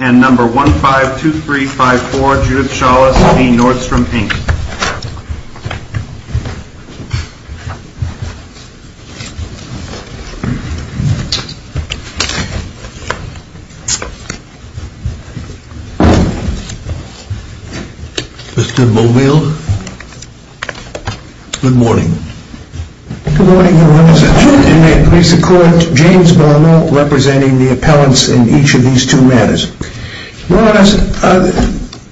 And number 152354, Judith Chalice v. Nordstrom, Inc. Mr. Muldeal, good morning. Good morning, Your Honor. In that case, the court, James Bono, representing the appellants in each of these two matters. Your Honor,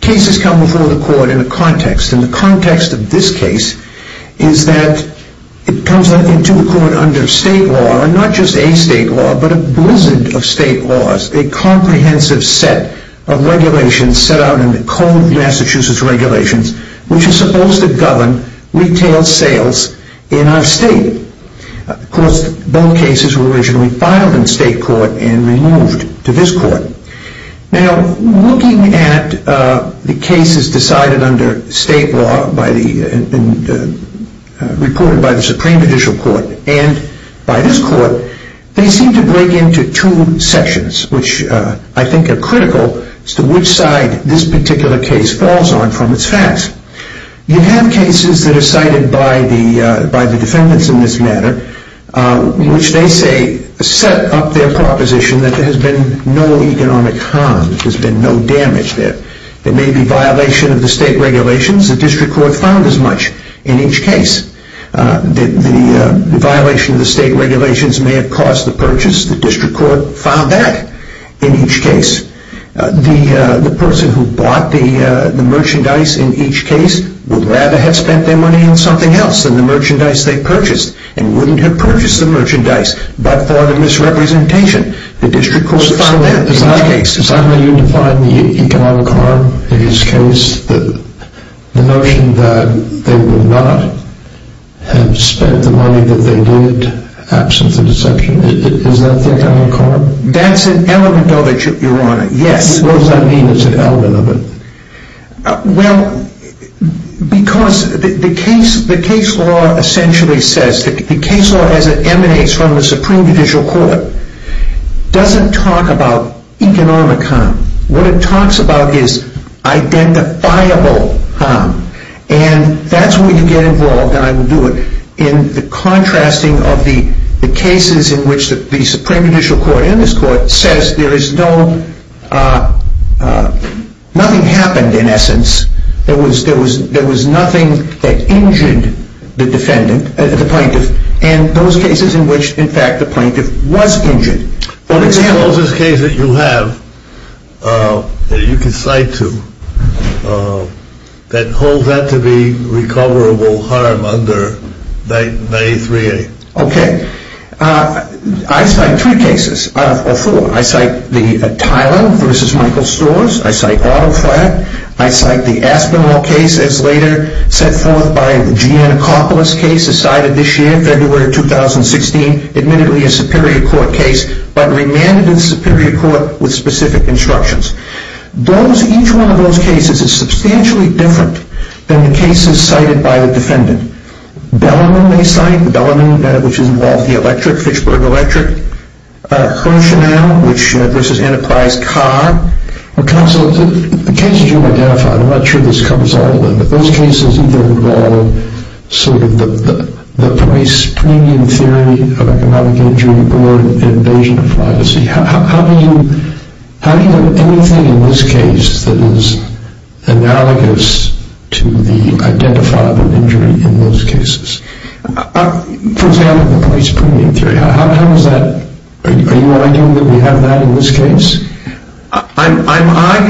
cases come before the court in a context. And the context of this case is that it comes into the court under state law, and not just a state law, but a blizzard of state laws, a comprehensive set of regulations set out in the Code of Massachusetts Regulations, which is supposed to govern retail sales in our state. Of course, both cases were originally filed in state court and removed to this court. Now, looking at the cases decided under state law, reported by the Supreme Judicial Court, and by this court, they seem to break into two sections, which I think are critical as to which side this particular case falls on from its facts. You have cases that are cited by the defendants in this matter, which they say set up their proposition that there has been no economic harm, there's been no damage there. There may be violation of the state regulations. The district court found as much in each case. The violation of the state regulations may have cost the purchase. The district court found that in each case. The person who bought the merchandise in each case would rather have spent their money on something else than the merchandise they purchased, and wouldn't have purchased the merchandise, but for the misrepresentation. The district court found that in each case. So suddenly you define the economic harm in this case, the notion that they would not have spent the money that they did, absent the deception. Is that the economic harm? That's an element of it, Your Honor. Yes. What does that mean is an element of it? Well, because the case law essentially says, the case law as it emanates from the Supreme Judicial Court, doesn't talk about economic harm. What it talks about is identifiable harm. And that's where you get involved, and I will do it, in the contrasting of the cases in which the Supreme Judicial Court, and this court, says there is no, nothing happened in essence. There was nothing that injured the defendant, the plaintiff, and those cases in which, in fact, the plaintiff was injured. For example. What is the closest case that you have, that you can cite to, that holds that to be recoverable harm under 9A3A? Okay. I cite three cases, or four. I cite the Tylan v. Michael Storrs. I cite Otto Flatt. I cite the Aspinwall case, as later set forth by the Giannacopoulos case, decided this year, February 2016, admittedly a Superior Court case, but remanded in the Superior Court with specific instructions. Those, each one of those cases is substantially different than the cases cited by the defendant. Bellarmine they cite, Bellarmine, which involved the electric, Fitchburg Electric. Herchanel v. Enterprise Car. Counsel, the cases you identify, I'm not sure this covers all of them, but those cases either involve sort of the price premium theory of economic injury or invasion of privacy. How do you have anything in this case that is analogous to the identifiable injury in those cases? For example, the price premium theory. How does that, are you arguing that we have that in this case? I'm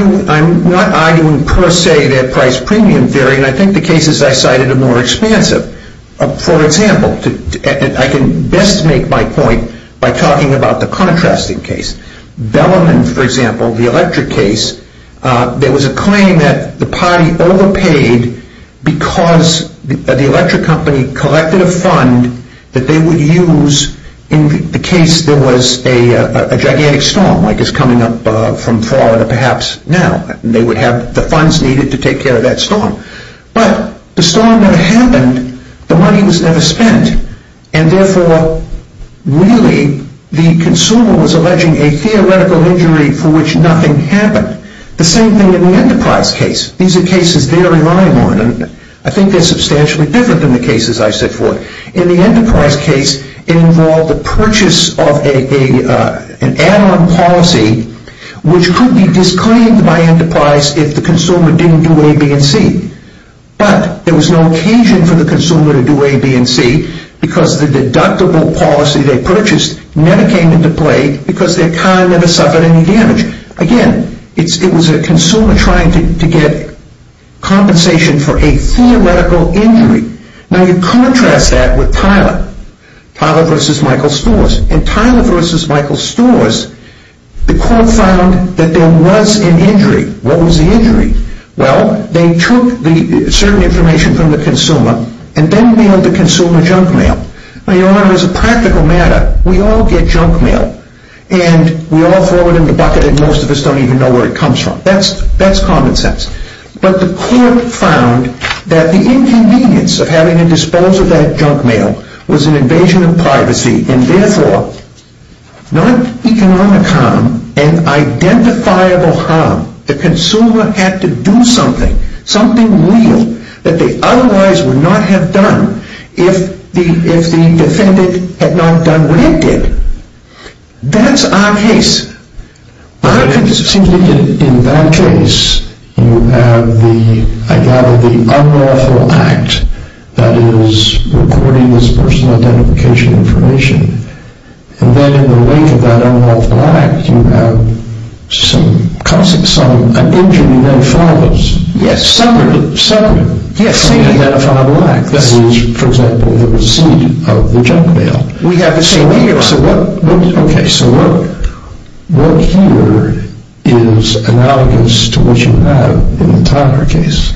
arguing, I'm not arguing per se that price premium theory, and I think the cases I cited are more expansive. For example, I can best make my point by talking about the contrasting case. Bellarmine, for example, the electric case, there was a claim that the party overpaid because the electric company collected a fund that they would use in the case there was a gigantic storm, like it's coming up from Florida perhaps now, and they would have the funds needed to take care of that storm. But the storm never happened, the money was never spent, and therefore really the consumer was alleging a theoretical injury for which nothing happened. The same thing in the Enterprise case. These are cases they're relying on, and I think they're substantially different than the cases I set forth. In the Enterprise case, it involved the purchase of an add-on policy which could be disclaimed by Enterprise if the consumer didn't do A, B, and C. But there was no occasion for the consumer to do A, B, and C because the deductible policy they purchased never came into play because their car never suffered any damage. Again, it was a consumer trying to get compensation for a theoretical injury. Now you contrast that with Tyler, Tyler versus Michael Storrs. In Tyler versus Michael Storrs, the court found that there was an injury. What was the injury? Well, they took certain information from the consumer and then mailed the consumer junk mail. Now, Your Honor, as a practical matter, we all get junk mail, and we all throw it in the bucket and most of us don't even know where it comes from. That's common sense. But the court found that the inconvenience of having to dispose of that junk mail was an invasion of privacy and therefore non-economic harm and identifiable harm. The consumer had to do something, something real, that they otherwise would not have done if the defendant had not done what he did. That's our case. It seems to me that in that case, you have the, I gather, the unlawful act that is recording this personal identification information, and then in the wake of that unlawful act, you have an injury that follows. Yes, separate. Separate. Yes, same identifiable act. That was, for example, the receipt of the junk mail. We have the same thing, Your Honor. Okay, so what here is analogous to what you have in the Tyler case?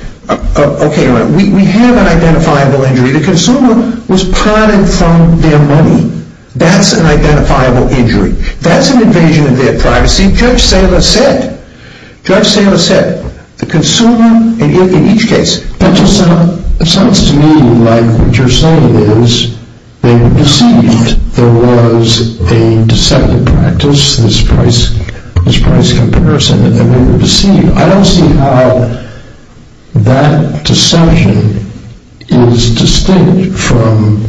Okay, Your Honor. We have an identifiable injury. The consumer was prodding from their money. That's an identifiable injury. That's an invasion of their privacy. Judge Saylor said, Judge Saylor said, the consumer in each case, that just sounds to me like what you're saying is they were deceived. There was a deceptive practice, this price comparison, and they were deceived. I don't see how that deception is distinct from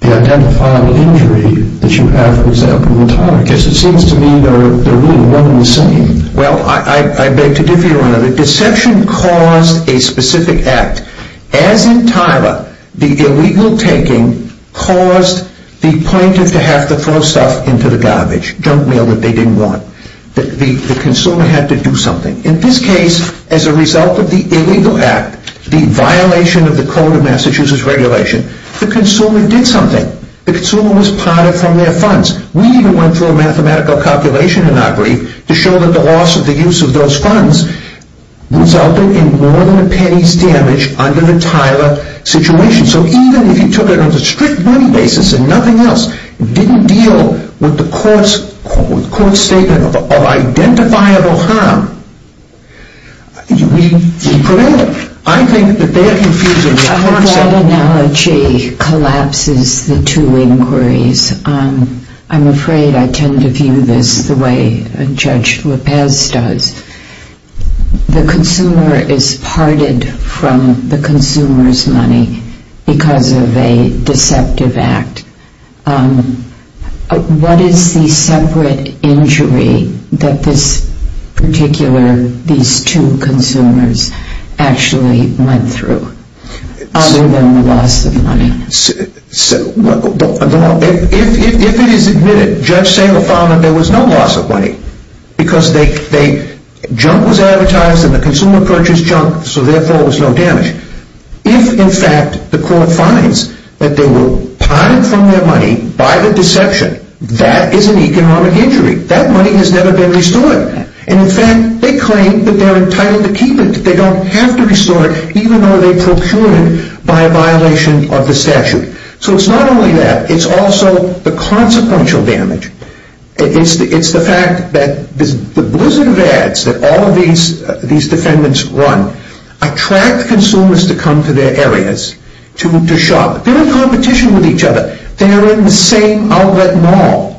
the identifiable injury that you have, for example, in the Tyler case. It seems to me they're really one and the same. Well, I beg to differ, Your Honor. The deception caused a specific act. As in Tyler, the illegal taking caused the plaintiff to have to throw stuff into the garbage, junk mail that they didn't want. The consumer had to do something. In this case, as a result of the illegal act, the violation of the Code of Massachusetts Regulation, the consumer did something. The consumer was prodding from their funds. We even went through a mathematical calculation in our brief to show that the loss of the use of those funds resulted in more than a penny's damage under the Tyler situation. So even if you took it on a strict money basis and nothing else, it didn't deal with the court's statement of identifiable harm. We proved it. I think that they are confusing the concept. That analogy collapses the two inquiries. I'm afraid I tend to view this the way Judge Lopez does. The consumer is prodded from the consumer's money because of a deceptive act. What is the separate injury that this particular, these two consumers, actually went through other than the loss of money? If it is admitted, Judge Salem found that there was no loss of money because junk was advertised and the consumer purchased junk, so therefore there was no damage. If, in fact, the court finds that they were prodded from their money by the deception, that is an economic injury. That money has never been restored. In fact, they claim that they are entitled to keep it. They don't have to restore it, even though they procured it by a violation of the statute. So it's not only that. It's also the consequential damage. It's the fact that the blizzard of ads that all of these defendants run attract consumers to come to their areas to shop. They are in competition with each other. They are in the same outlet mall.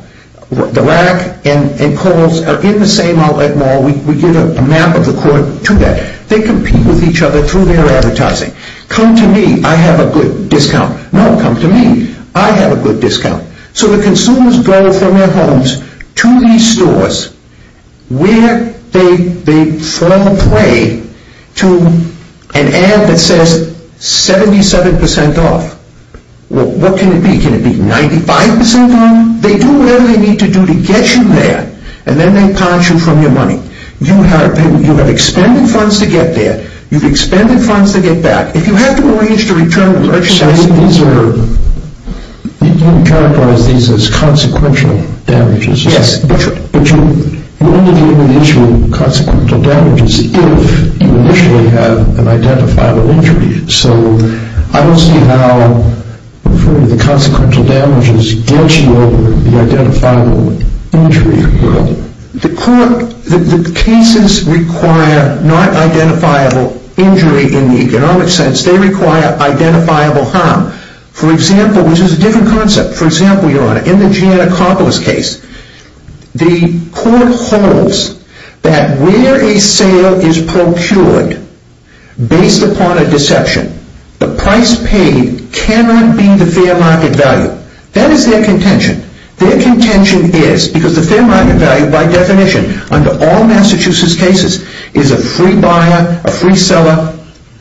The Rack and Kohl's are in the same outlet mall. We give a map of the court to that. They compete with each other through their advertising. Come to me, I have a good discount. No, come to me, I have a good discount. So the consumers go from their homes to these stores where they throw a play to an ad that says 77% off. Well, what can it be? Can it be 95% off? They do whatever they need to do to get you there, and then they pounce you from your money. You have expended funds to get there. You've expended funds to get back. You characterize these as consequential damages. Yes. But you only deal with the issue of consequential damages if you initially have an identifiable injury. So I don't see how the consequential damages gets you over the identifiable injury. The cases require not identifiable injury in the economic sense. They require identifiable harm, which is a different concept. For example, Your Honor, in the Giannakopoulos case, the court holds that where a sale is procured based upon a deception, the price paid cannot be the fair market value. That is their contention. Their contention is, because the fair market value, by definition, under all Massachusetts cases, is a free buyer, a free seller,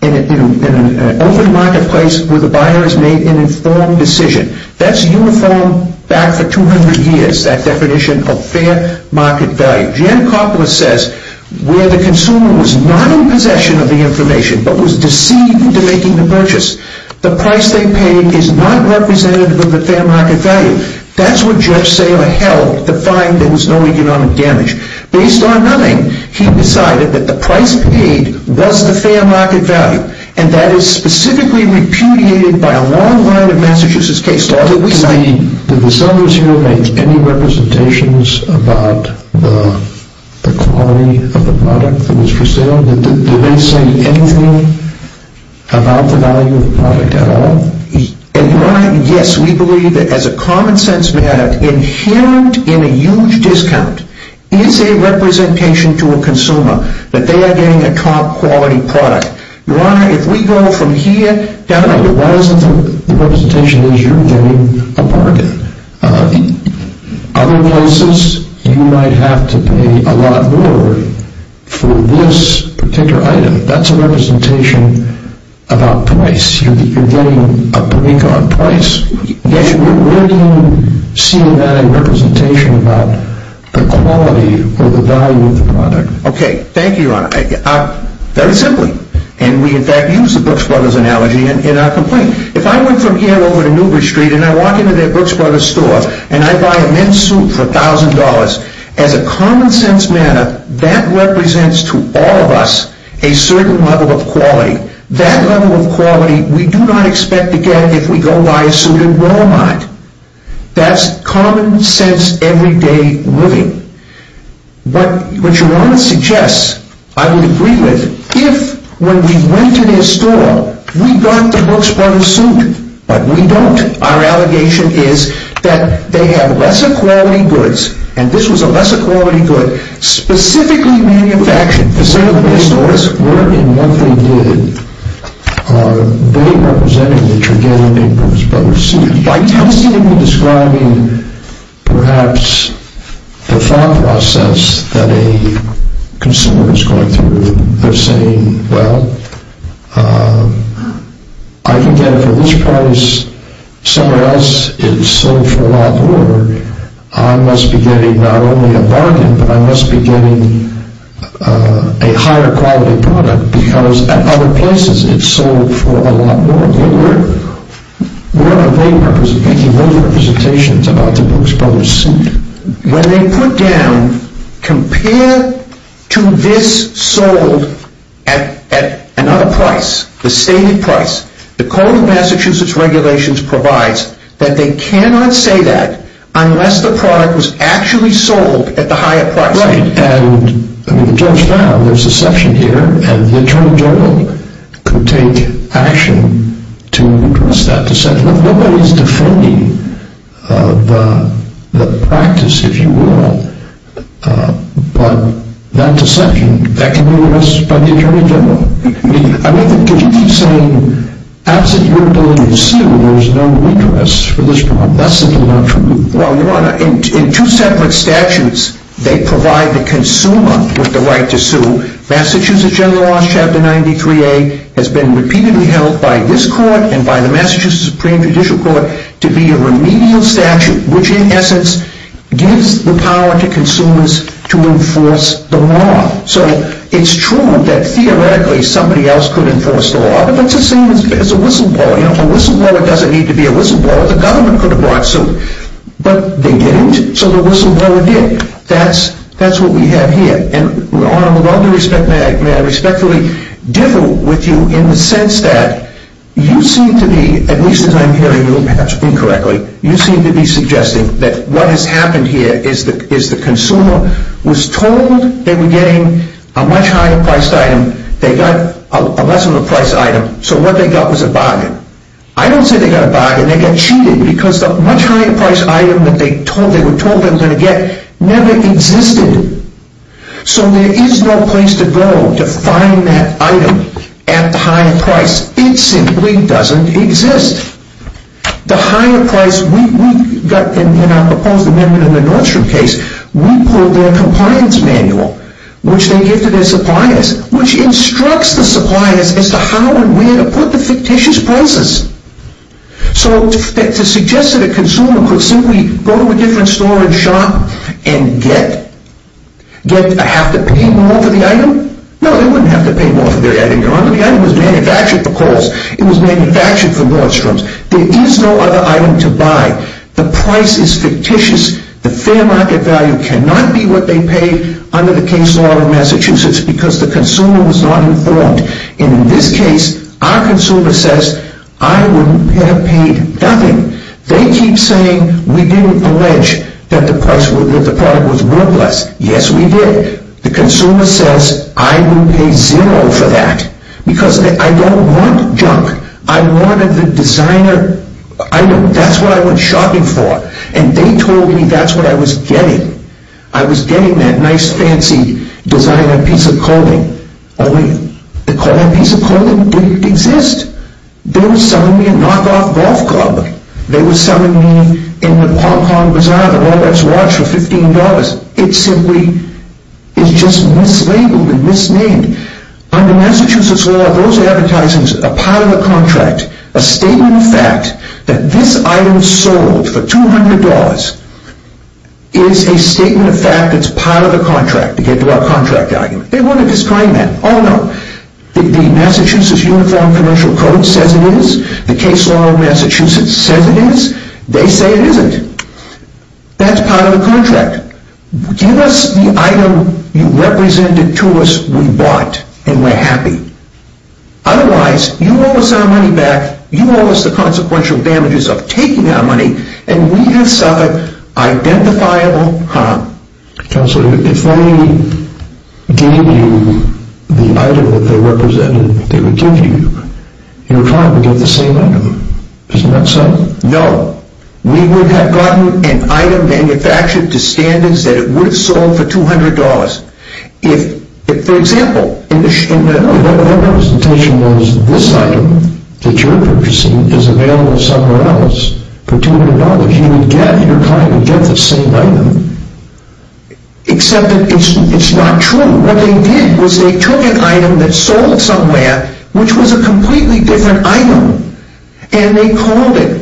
in an open marketplace where the buyer has made an informed decision. That's uniform back for 200 years, that definition of fair market value. Giannakopoulos says where the consumer was not in possession of the information but was deceived into making the purchase, the price they paid is not representative of the fair market value. That's what Judge Saylor held to find there was no economic damage. Based on nothing, he decided that the price paid was the fair market value, and that is specifically repudiated by a long line of Massachusetts cases. Did the sellers here make any representations about the quality of the product that was for sale? Did they say anything about the value of the product at all? And, Your Honor, yes, we believe that as a common sense matter, inherent in a huge discount is a representation to a consumer that they are getting a top quality product. Your Honor, if we go from here down to the bottom, the representation is you're getting a bargain. Other places, you might have to pay a lot more for this particular item. That's a representation about price. You're getting a price. Where do you see that in representation about the quality or the value of the product? Okay, thank you, Your Honor. Very simply, and we, in fact, use the Brooks Brothers analogy in our complaint. If I went from here over to Newbridge Street and I walk into their Brooks Brothers store and I buy a men's suit for $1,000, as a common sense matter, that represents to all of us a certain level of quality. That level of quality we do not expect to get if we go buy a suit in Walmart. That's common sense, everyday living. What Your Honor suggests, I would agree with, if when we went to their store, we got the Brooks Brothers suit, but we don't. Our allegation is that they have lesser quality goods, and this was a lesser quality good, specifically manufactured, specifically made for us. We're in what they did. They represented that you're getting a Brooks Brothers suit. By tentatively describing perhaps the thought process that a consumer is going through, they're saying, well, I can get it for this price. Somewhere else, it's sold for a lot more. I must be getting not only a bargain, but I must be getting a higher quality product because at other places it's sold for a lot more. We're making those representations about the Brooks Brothers suit. When they put down, compare to this sold at another price, the stated price, the code of Massachusetts regulations provides that they cannot say that unless the product was actually sold at the higher price. Right, and just now, there's a section here, and the Attorney General could take action to address that, to say look, nobody's defending the practice, if you will, but that deception, that can be addressed by the Attorney General. I mean, could you keep saying, absent your ability to sue, there's no interest for this product. That's simply not true. Well, Your Honor, in two separate statutes, they provide the consumer with the right to sue. Massachusetts General Law, Chapter 93A, has been repeatedly held by this court and by the Massachusetts Supreme Judicial Court to be a remedial statute, which in essence gives the power to consumers to enforce the law. So it's true that theoretically somebody else could enforce the law, but that's the same as a whistleblower. A whistleblower doesn't need to be a whistleblower. The government could have brought suit, but they didn't, so the whistleblower did. That's what we have here, and Your Honor, with all due respect, may I respectfully differ with you in the sense that you seem to be, at least as I'm hearing you perhaps incorrectly, you seem to be suggesting that what has happened here is the consumer was told they were getting a much higher-priced item, they got a less of a price item, so what they got was a bargain. I don't say they got a bargain. They got cheated because the much higher-priced item that they were told they were going to get never existed. So there is no place to go to find that item at the higher price. It simply doesn't exist. The higher price we got in our proposed amendment in the Nordstrom case, we pulled their compliance manual, which they give to their suppliers, which instructs the suppliers as to how and where to put the fictitious prices. So to suggest that a consumer could simply go to a different store and shop and have to pay more for the item? No, they wouldn't have to pay more for the item, Your Honor. The item was manufactured for Kohl's. It was manufactured for Nordstrom's. There is no other item to buy. The price is fictitious. The fair market value cannot be what they paid under the case law in Massachusetts because the consumer was not informed. In this case, our consumer says, I wouldn't have paid nothing. They keep saying we didn't allege that the product was worthless. Yes, we did. The consumer says, I would pay zero for that because I don't want junk. I wanted the designer item. That's what I went shopping for, and they told me that's what I was getting. I was getting that nice, fancy designer piece of clothing. Only that piece of clothing didn't exist. They were selling me a knockoff golf club. They were selling me in the Hong Kong Bazaar the Rolex watch for $15. It simply is just mislabeled and misnamed. Under Massachusetts law, those are advertising a pile of a contract, a statement of fact that this item sold for $200 is a statement of fact that's a pile of a contract to get to our contract argument. They want to disclaim that. Oh, no. The Massachusetts Uniform Commercial Code says it is. The case law of Massachusetts says it is. They say it isn't. That's a pile of a contract. Give us the item you represented to us we bought, and we're happy. Otherwise, you owe us our money back. You owe us the consequential damages of taking our money, and we just suffer identifiable harm. Counselor, if they gave you the item that they represented they would give you, you're probably getting the same item. Isn't that so? No. We would have gotten an item manufactured to standards that it would have sold for $200. For example, if their representation was this item that you're purchasing is available somewhere else for $200, you would get the same item. Except that it's not true. What they did was they took an item that sold somewhere, which was a completely different item, and they called it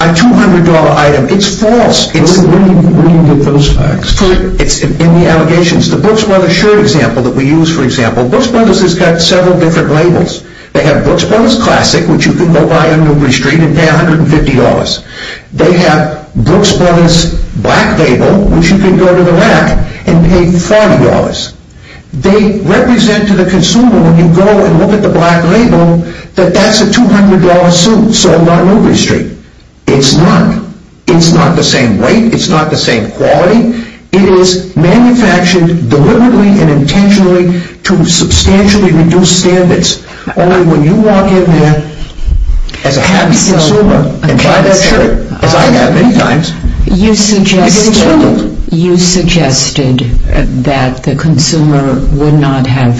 a $200 item. It's false. When do you get those facts? It's in the allegations. The Brooks Brothers shirt example that we use, for example, Brooks Brothers has got several different labels. They have Brooks Brothers Classic, which you can go buy on Newbury Street and pay $150. They have Brooks Brothers Black Label, which you can go to the rack and pay $40. They represent to the consumer when you go and look at the black label that that's a $200 suit sold on Newbury Street. It's not. It's not the same weight. It's not the same quality. It is manufactured deliberately and intentionally to substantially reduce standards. Only when you walk in there as a happy consumer and buy that shirt, as I have many times, it gets labeled. You suggested that the consumer would not have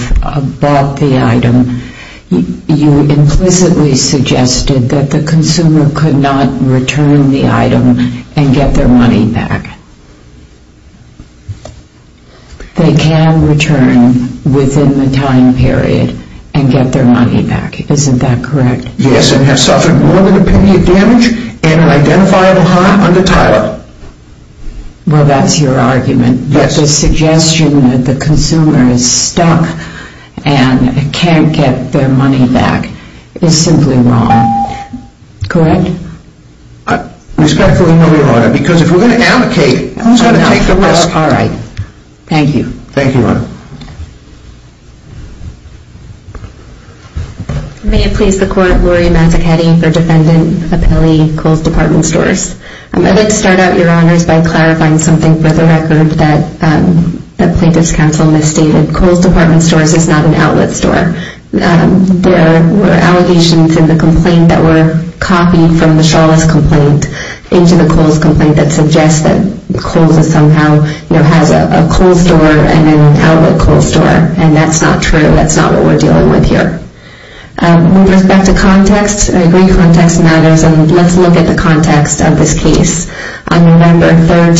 bought the item. You implicitly suggested that the consumer could not return the item and get their money back. They can return within the time period and get their money back. Isn't that correct? Yes, and have suffered more than a penny of damage and an identifiable harm under title. Well, that's your argument. Yes. Your suggestion that the consumer is stuck and can't get their money back is simply wrong. Correct? I respectfully move, Your Honor, because if we're going to advocate, it's going to take the risk. All right. Thank you. Thank you, Your Honor. May it please the Court. Laurie Mazzacatti, the Defendant Appellee, Coles Department Stores. I'd like to start out, Your Honors, by clarifying something for the record that the Plaintiff's Counsel misstated. Coles Department Stores is not an outlet store. There were allegations in the complaint that were copied from the Shawless complaint into the Coles complaint that suggests that Coles somehow has a cold store and an outlet cold store, and that's not true. That's not what we're dealing with here. With respect to context, I agree context matters, and let's look at the context of this case. On November 3,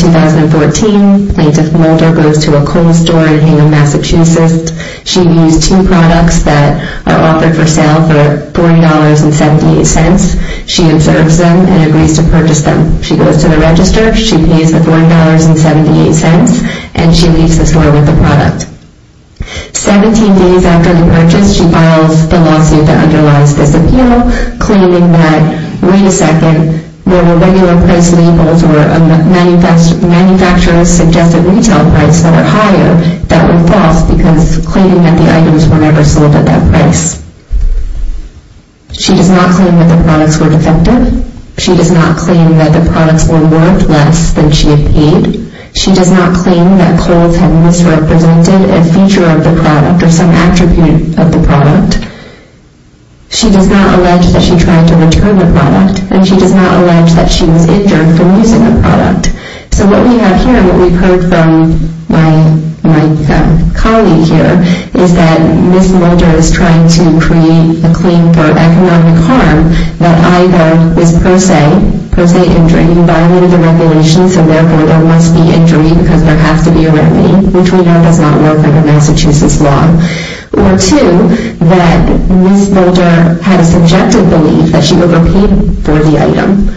2014, Plaintiff Mulder goes to a Coles store in Hingham, Massachusetts. She views two products that are offered for sale for $40.78. She observes them and agrees to purchase them. She goes to the register, she pays the $40.78, and she leaves the store with the product. Seventeen days after the purchase, she files the lawsuit that underlies this appeal, claiming that, wait a second, there were regular price labels or manufacturer's suggested retail price that are higher that were false because claiming that the items were never sold at that price. She does not claim that the products were defective. She does not claim that the products were worth less than she had paid. She does not claim that Coles had misrepresented a feature of the product or some attribute of the product. She does not allege that she tried to return the product. And she does not allege that she was injured from using the product. So what we have here, what we've heard from my colleague here, is that Ms. Mulder is trying to create a claim for economic harm that either was per se, per se injury, violated the regulations, and therefore there must be injury because there has to be a remedy, which we know does not work under Massachusetts law. Or two, that Ms. Mulder had a subjective belief that she overpaid for the item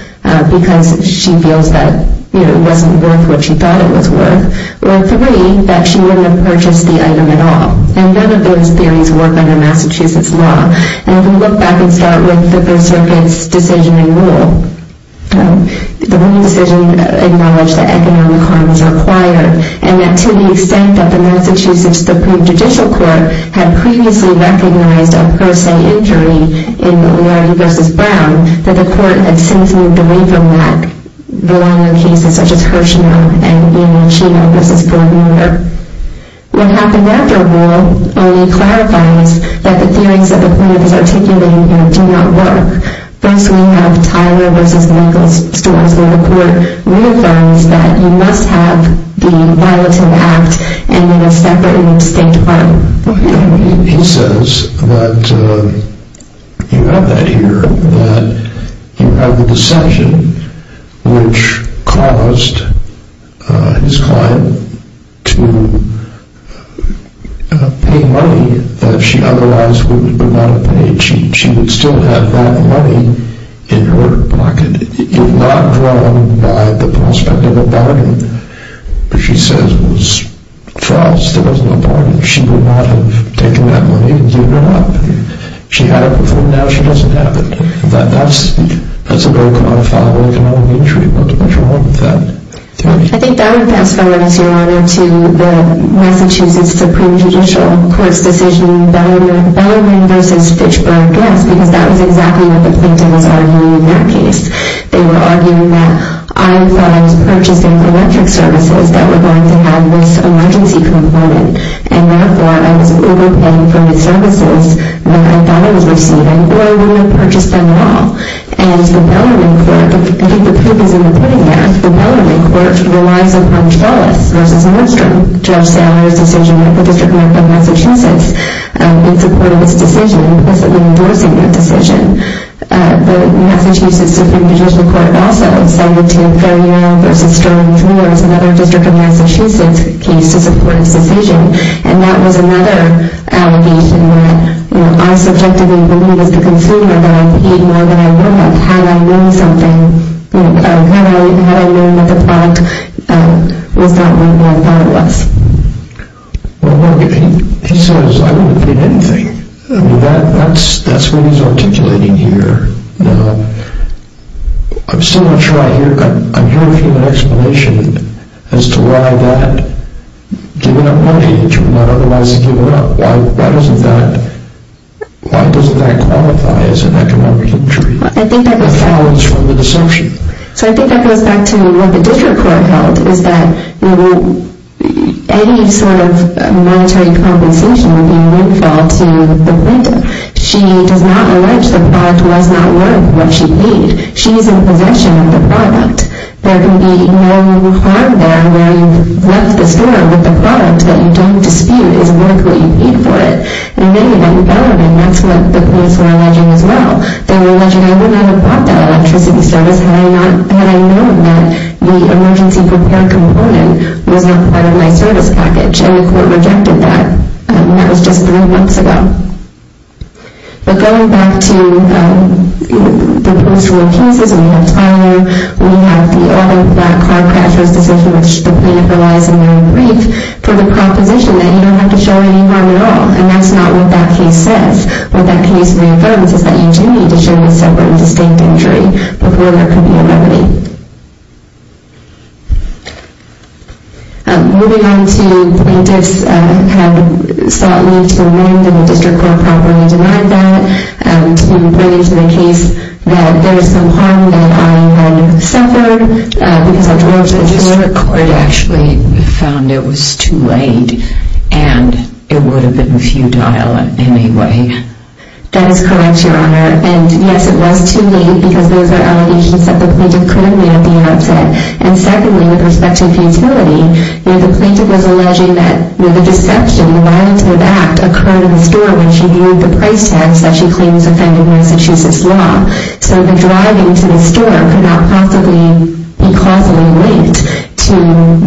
because she feels that it wasn't worth what she thought it was worth. Or three, that she wouldn't have purchased the item at all. And none of those theories work under Massachusetts law. And I'm going to look back and start with the First Circuit's decision in rule. The ruling decision acknowledged that economic harm was required, and that to the extent that the Massachusetts Supreme Judicial Court had previously recognized a per se injury in O'Neill v. Brown, that the court had since moved away from that, belonging to cases such as Hirschnell and O'Neill-Chino v. Ford Mulder. What happened after rule, O'Neill clarifies that the theories that the court is articulating do not work. First we have Tyler v. Lincoln's stories where the court reaffirms that you must have the violating act and then a separate and distinct harm. He says that you have that here, that you have the decision which caused his client to pay money that she otherwise would not have paid. She would still have that money in her pocket if not drawn by the prospect of a bargain. But she says it was false. There was no bargain. She would not have taken that money and given it up. She had it before. Now she doesn't have it. That's a very quantifiable economic injury. What's the matter with that? I think that would fast forward us, Your Honor, to the Massachusetts Supreme Judicial Court's decision, Bellarmine v. Fitchburg. Yes, because that was exactly what the plaintiff was arguing in that case. They were arguing that I thought I was purchasing electric services that were going to have this emergency component and, therefore, I was overpaying for the services that I thought I was receiving, or I wouldn't have purchased them at all. And the Bellarmine court, I think the proof is in the putting act, the Bellarmine court relies upon Wallace v. Nordstrom, Judge Saler's decision at the District Court of Massachusetts in support of this decision, implicitly endorsing that decision. The Massachusetts Supreme Judicial Court also cited to Ferrier v. Sterling, another District of Massachusetts case, to support its decision. And that was another allegation where I subjectively believe as the consumer that I paid more than I would have had I known something, had I known that the product was not made by Wallace. Well, look, he says, I wouldn't have paid anything. I mean, that's what he's articulating here. Now, I'm still not sure I hear a human explanation as to why that giving up money agent would not otherwise have given up. Why doesn't that qualify as an economic injury? It follows from the deception. So I think that goes back to what the District Court held, is that any sort of monetary compensation would be a windfall to the plaintiff. She does not allege the product was not worth what she paid. She's in possession of the product. There can be no harm there where you've left the store with the product that you don't dispute is worth what you paid for it. You made it at Bellarmine. That's what the plaintiffs were alleging as well. They were alleging I wouldn't have bought that electricity service had I known that the emergency repair component was not part of my service package. And the court rejected that. That was just three months ago. But going back to the post-rule cases, we have Tyler. We have the other black car crashers decision which the plaintiff relies on Mary Grave for the proposition that you don't have to show any harm at all. And that's not what that case says. What that case reaffirms is that you do need to show a separate and distinct injury before there can be a remedy. Moving on to plaintiffs have sought leave to amend, and the District Court properly denied that, and pointed to the case that there is some harm that I might have suffered because I drove to the store. The District Court actually found it was too late, and it would have been futile anyway. That is correct, Your Honor. And yes, it was too late because those are allegations that the plaintiff could have made at the outset. And secondly, with respect to futility, the plaintiff was alleging that the deception, the lie to the fact, occurred in the store when she viewed the price tags that she claims offended Massachusetts law. So the driving to the store could not possibly be causally linked to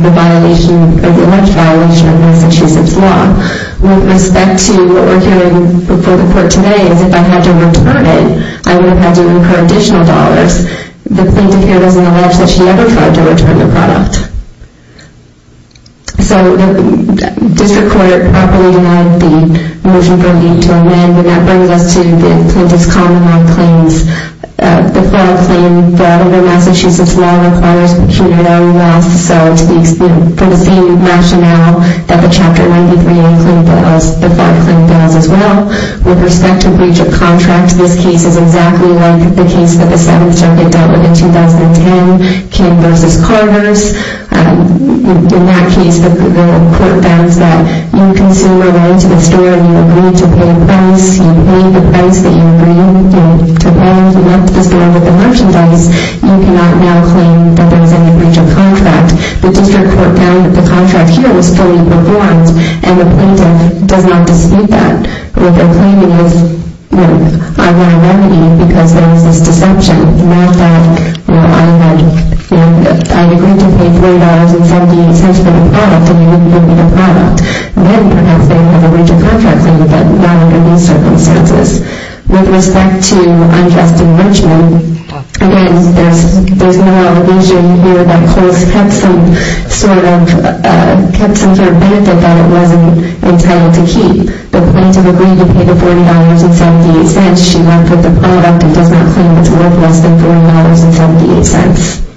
the violation or the alleged violation of Massachusetts law. With respect to what we're hearing before the court today is if I had to return it, I would have had to incur additional dollars. The plaintiff here doesn't allege that she ever tried to return the product. So the District Court properly denied the motion for leave to amend, and that brings us to the plaintiff's common-law claims. The fraud claim brought over Massachusetts law requires procurement of a loss. So for the same rationale that the Chapter 93A claim does, the fraud claim does as well. With respect to breach of contract, this case is exactly like the case that the Seventh Circuit dealt with in 2010, King v. Carver's. In that case, the court found that you consumer went into the store and you agreed to pay a price. You paid the price that you agreed to pay. You went to the store with the merchandise. You cannot now claim that there was any breach of contract. The District Court found that the contract here was still in the courts, and the plaintiff does not dispute that. What they're claiming is, you know, I ran a remedy because there was this deception. You know, I agreed to pay $40.78 for the product, and you wouldn't give me the product. Then perhaps they would have a breach of contract claim, but not under these circumstances. With respect to unjust infringement, again, there's no allegation here that Coles kept some sort of benefit that it wasn't entitled to keep. But the plaintiff agreed to pay the $40.78. She went for the product and does not claim it's worth less than $40.78.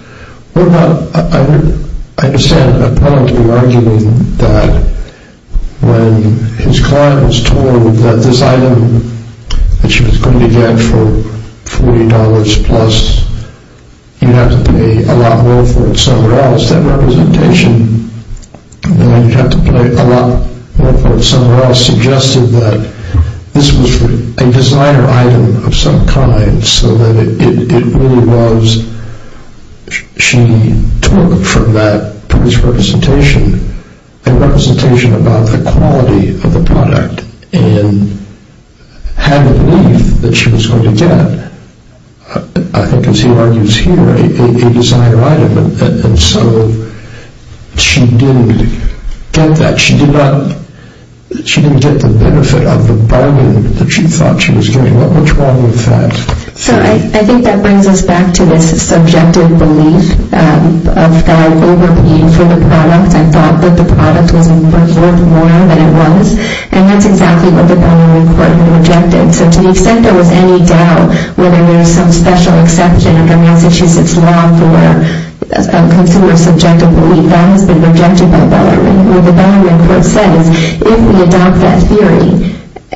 What about, I understand, apparently arguing that when his client was told that this item that she was going to get for $40 plus, you'd have to pay a lot more for it somewhere else. Perhaps that representation, that you'd have to pay a lot more for it somewhere else, suggested that this was a designer item of some kind, so that it really was she took from that previous representation a representation about the quality of the product and had the belief that she was going to get, I think as he argues here, a designer item. And so she didn't get that. She didn't get the benefit of the bargain that she thought she was getting. What's wrong with that? So I think that brings us back to this subjective belief of that overpaying for the product. I thought that the product was worth more than it was. And that's exactly what the Binary Court had objected. So to the extent there was any doubt whether there was some special exception under Massachusetts law for consumer subjective belief, that has been rejected by the Binary Court. The Binary Court says if we adopt that theory,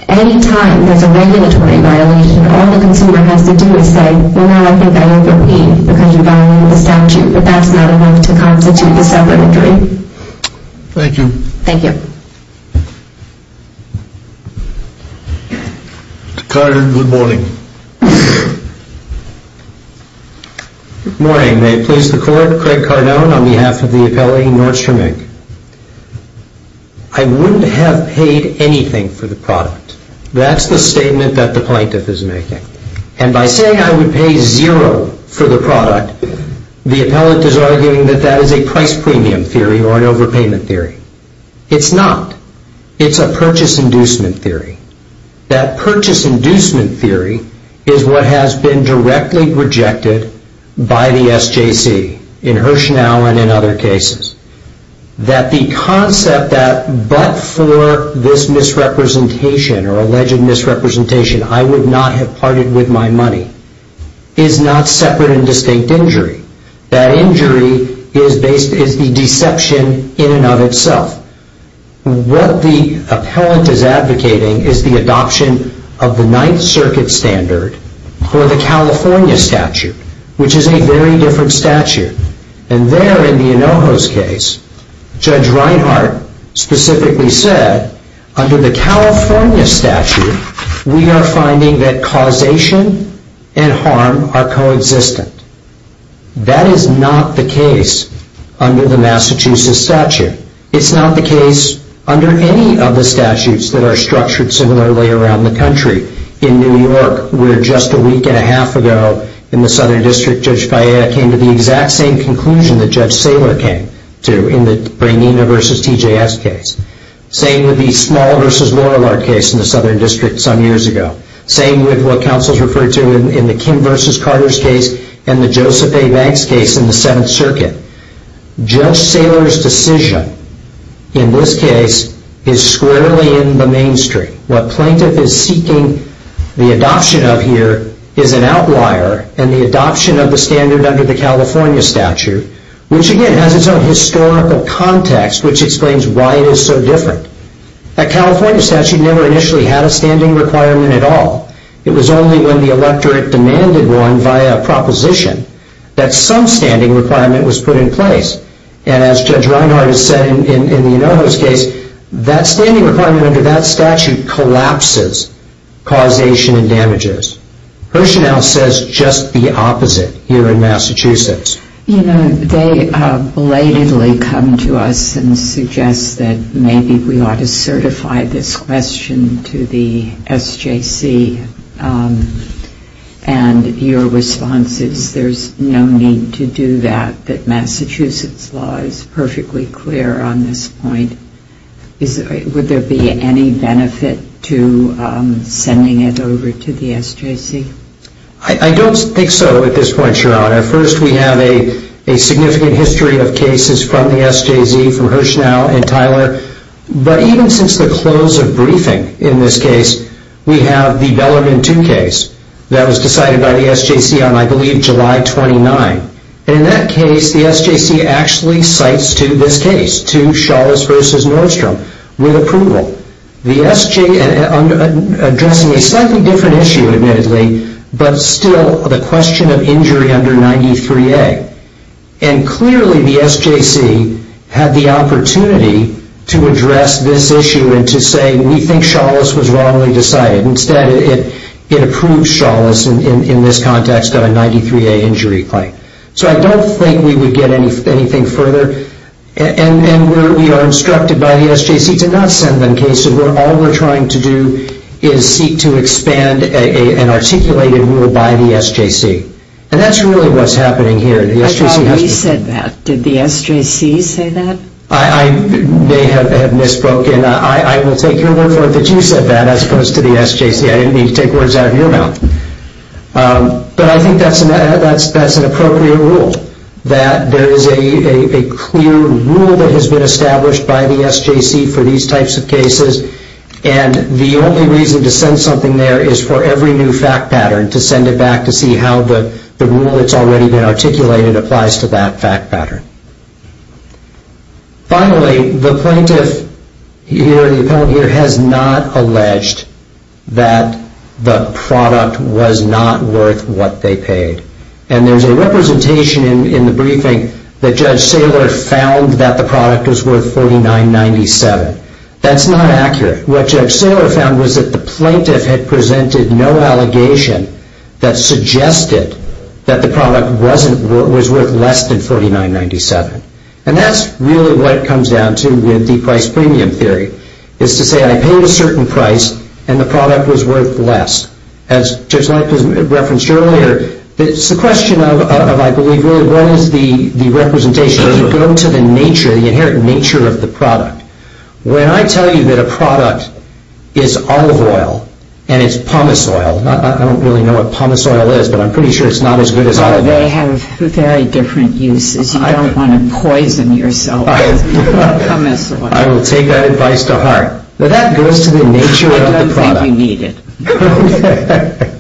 any time there's a regulatory violation, all the consumer has to do is say, well, I think I overpaid because you violated the statute. But that's not enough to constitute a separate injury. Thank you. Thank you. Mr. Cardone, good morning. Good morning. May it please the Court. Craig Cardone on behalf of the appellee, Nordstrom Inc. I wouldn't have paid anything for the product. That's the statement that the plaintiff is making. And by saying I would pay zero for the product, the appellate is arguing that that is a price premium theory or an overpayment theory. It's not. It's a purchase inducement theory. That purchase inducement theory is what has been directly rejected by the SJC, in Hirschnau and in other cases. That the concept that but for this misrepresentation or alleged misrepresentation, I would not have parted with my money, is not separate and distinct injury. That injury is the deception in and of itself. What the appellant is advocating is the adoption of the Ninth Circuit standard for the California statute, which is a very different statute. And there in the Anojos case, Judge Reinhart specifically said, under the California statute, we are finding that causation and harm are co-existent. That is not the case under the Massachusetts statute. It's not the case under any of the statutes that are structured similarly around the country. In New York, where just a week and a half ago, in the Southern District, Judge Faya came to the exact same conclusion that Judge Saylor came to, in the Brangina v. TJS case. Same with the Small v. Lorillard case in the Southern District some years ago. Same with what counsels referred to in the Kim v. Carter's case and the Joseph A. Banks case in the Seventh Circuit. Judge Saylor's decision, in this case, is squarely in the mainstream. What plaintiff is seeking the adoption of here is an outlier in the adoption of the standard under the California statute, which again has its own historical context, which explains why it is so different. The California statute never initially had a standing requirement at all. It was only when the electorate demanded one via proposition that some standing requirement was put in place. And as Judge Reinhart has said in the Enoho's case, that standing requirement under that statute collapses causation and damages. Herschel now says just the opposite here in Massachusetts. You know, they belatedly come to us and suggest that maybe we ought to certify this question to the SJC. And your response is there's no need to do that. That Massachusetts law is perfectly clear on this point. Would there be any benefit to sending it over to the SJC? I don't think so at this point, Your Honor. First, we have a significant history of cases from the SJC, from Herschel and Tyler. But even since the close of briefing in this case, we have the Bellarmine 2 case that was decided by the SJC on, I believe, July 29. And in that case, the SJC actually cites to this case, to Chalice v. Nordstrom, with approval. The SJC, addressing a slightly different issue, admittedly, but still the question of injury under 93A. And clearly, the SJC had the opportunity to address this issue and to say, we think Chalice was wrongly decided. Instead, it approved Chalice in this context of a 93A injury claim. So I don't think we would get anything further. And we are instructed by the SJC to not send them cases. All we're trying to do is seek to expand an articulated rule by the SJC. And that's really what's happening here. I thought we said that. Did the SJC say that? I may have misspoken. I will take your word for it that you said that, as opposed to the SJC. I didn't mean to take words out of your mouth. But I think that's an appropriate rule, that there is a clear rule that has been established by the SJC for these types of cases. And the only reason to send something there is for every new fact pattern, to send it back to see how the rule that's already been articulated applies to that fact pattern. Finally, the plaintiff here, the appellant here, has not alleged that the product was not worth what they paid. And there's a representation in the briefing that Judge Saylor found that the product was worth $49.97. That's not accurate. What Judge Saylor found was that the plaintiff had presented no allegation that suggested that the product was worth less than $49.97. And that's really what it comes down to with the price-premium theory, is to say I paid a certain price and the product was worth less. As Judge Leip has referenced earlier, it's a question of, I believe, what is the representation? You go to the nature, the inherent nature of the product. When I tell you that a product is olive oil and it's pumice oil, I don't really know what pumice oil is, but I'm pretty sure it's not as good as olive oil. Well, they have very different uses. You don't want to poison yourself with pumice oil. I will take that advice to heart. But that goes to the nature of the product. I don't think you need it.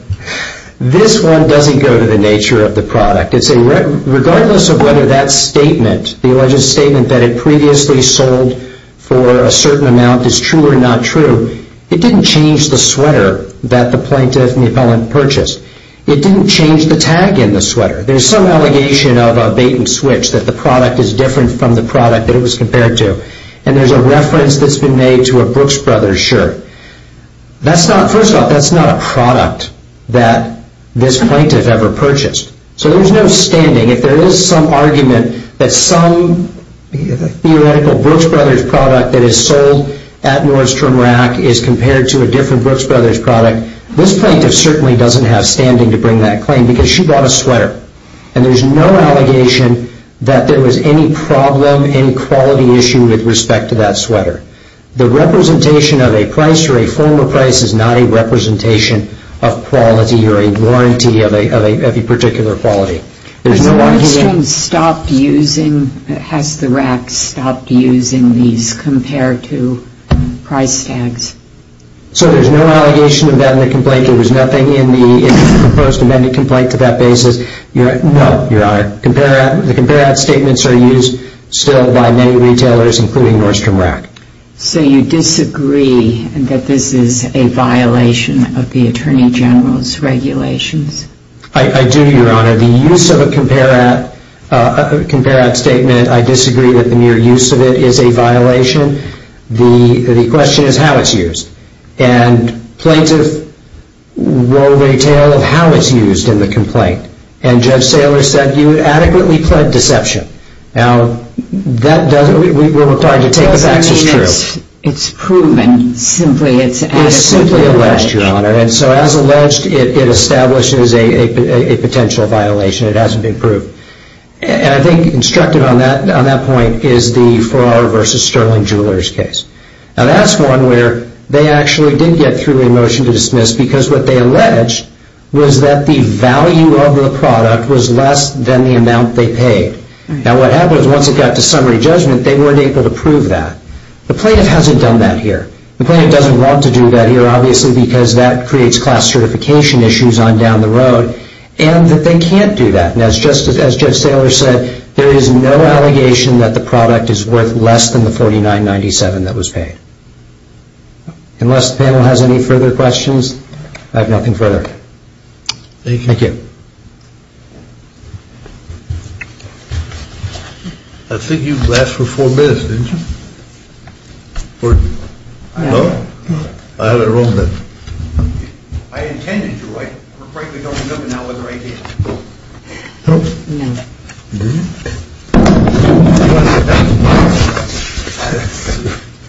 This one doesn't go to the nature of the product. Regardless of whether that statement, the alleged statement that it previously sold for a certain amount is true or not true, it didn't change the sweater that the plaintiff and the appellant purchased. It didn't change the tag in the sweater. There's some allegation of a bait-and-switch, that the product is different from the product that it was compared to. And there's a reference that's been made to a Brooks Brothers shirt. First off, that's not a product that this plaintiff ever purchased. So there's no standing. If there is some argument that some theoretical Brooks Brothers product that is sold at Nordstrom Rack is compared to a different Brooks Brothers product, this plaintiff certainly doesn't have standing to bring that claim because she bought a sweater. And there's no allegation that there was any problem, any quality issue with respect to that sweater. The representation of a price or a formal price is not a representation of quality or a warranty of a particular quality. Has Nordstrom stopped using, has the Rack stopped using these compare-to price tags? So there's no allegation of that in the complaint. There was nothing in the proposed amendment complaint to that basis. No, Your Honor. The compare-at statements are used still by many retailers, including Nordstrom Rack. So you disagree that this is a violation of the Attorney General's regulations? I do, Your Honor. The use of a compare-at statement, I disagree that the mere use of it is a violation. The question is how it's used. And plaintiff wove a tale of how it's used in the complaint. And Judge Saylor said you adequately pled deception. Now, we're required to take the facts as true. It's proven simply. It's simply alleged, Your Honor. And so as alleged, it establishes a potential violation. It hasn't been proved. And I think instructed on that point is the Farr v. Sterling Jewelers case. Now, that's one where they actually did get through a motion to dismiss because what they alleged was that the value of the product was less than the amount they paid. Now, what happened was once it got to summary judgment, they weren't able to prove that. The plaintiff hasn't done that here. The plaintiff doesn't want to do that here, obviously, because that creates class certification issues on down the road and that they can't do that. And as Judge Saylor said, there is no allegation that the product is worth less than the $49.97 that was paid. Unless the panel has any further questions, I have nothing further. Thank you. Thank you. I think you last for four minutes, didn't you? No? I had it wrong then. I intended to. I frankly don't remember now whether I did. No? No. You didn't? No.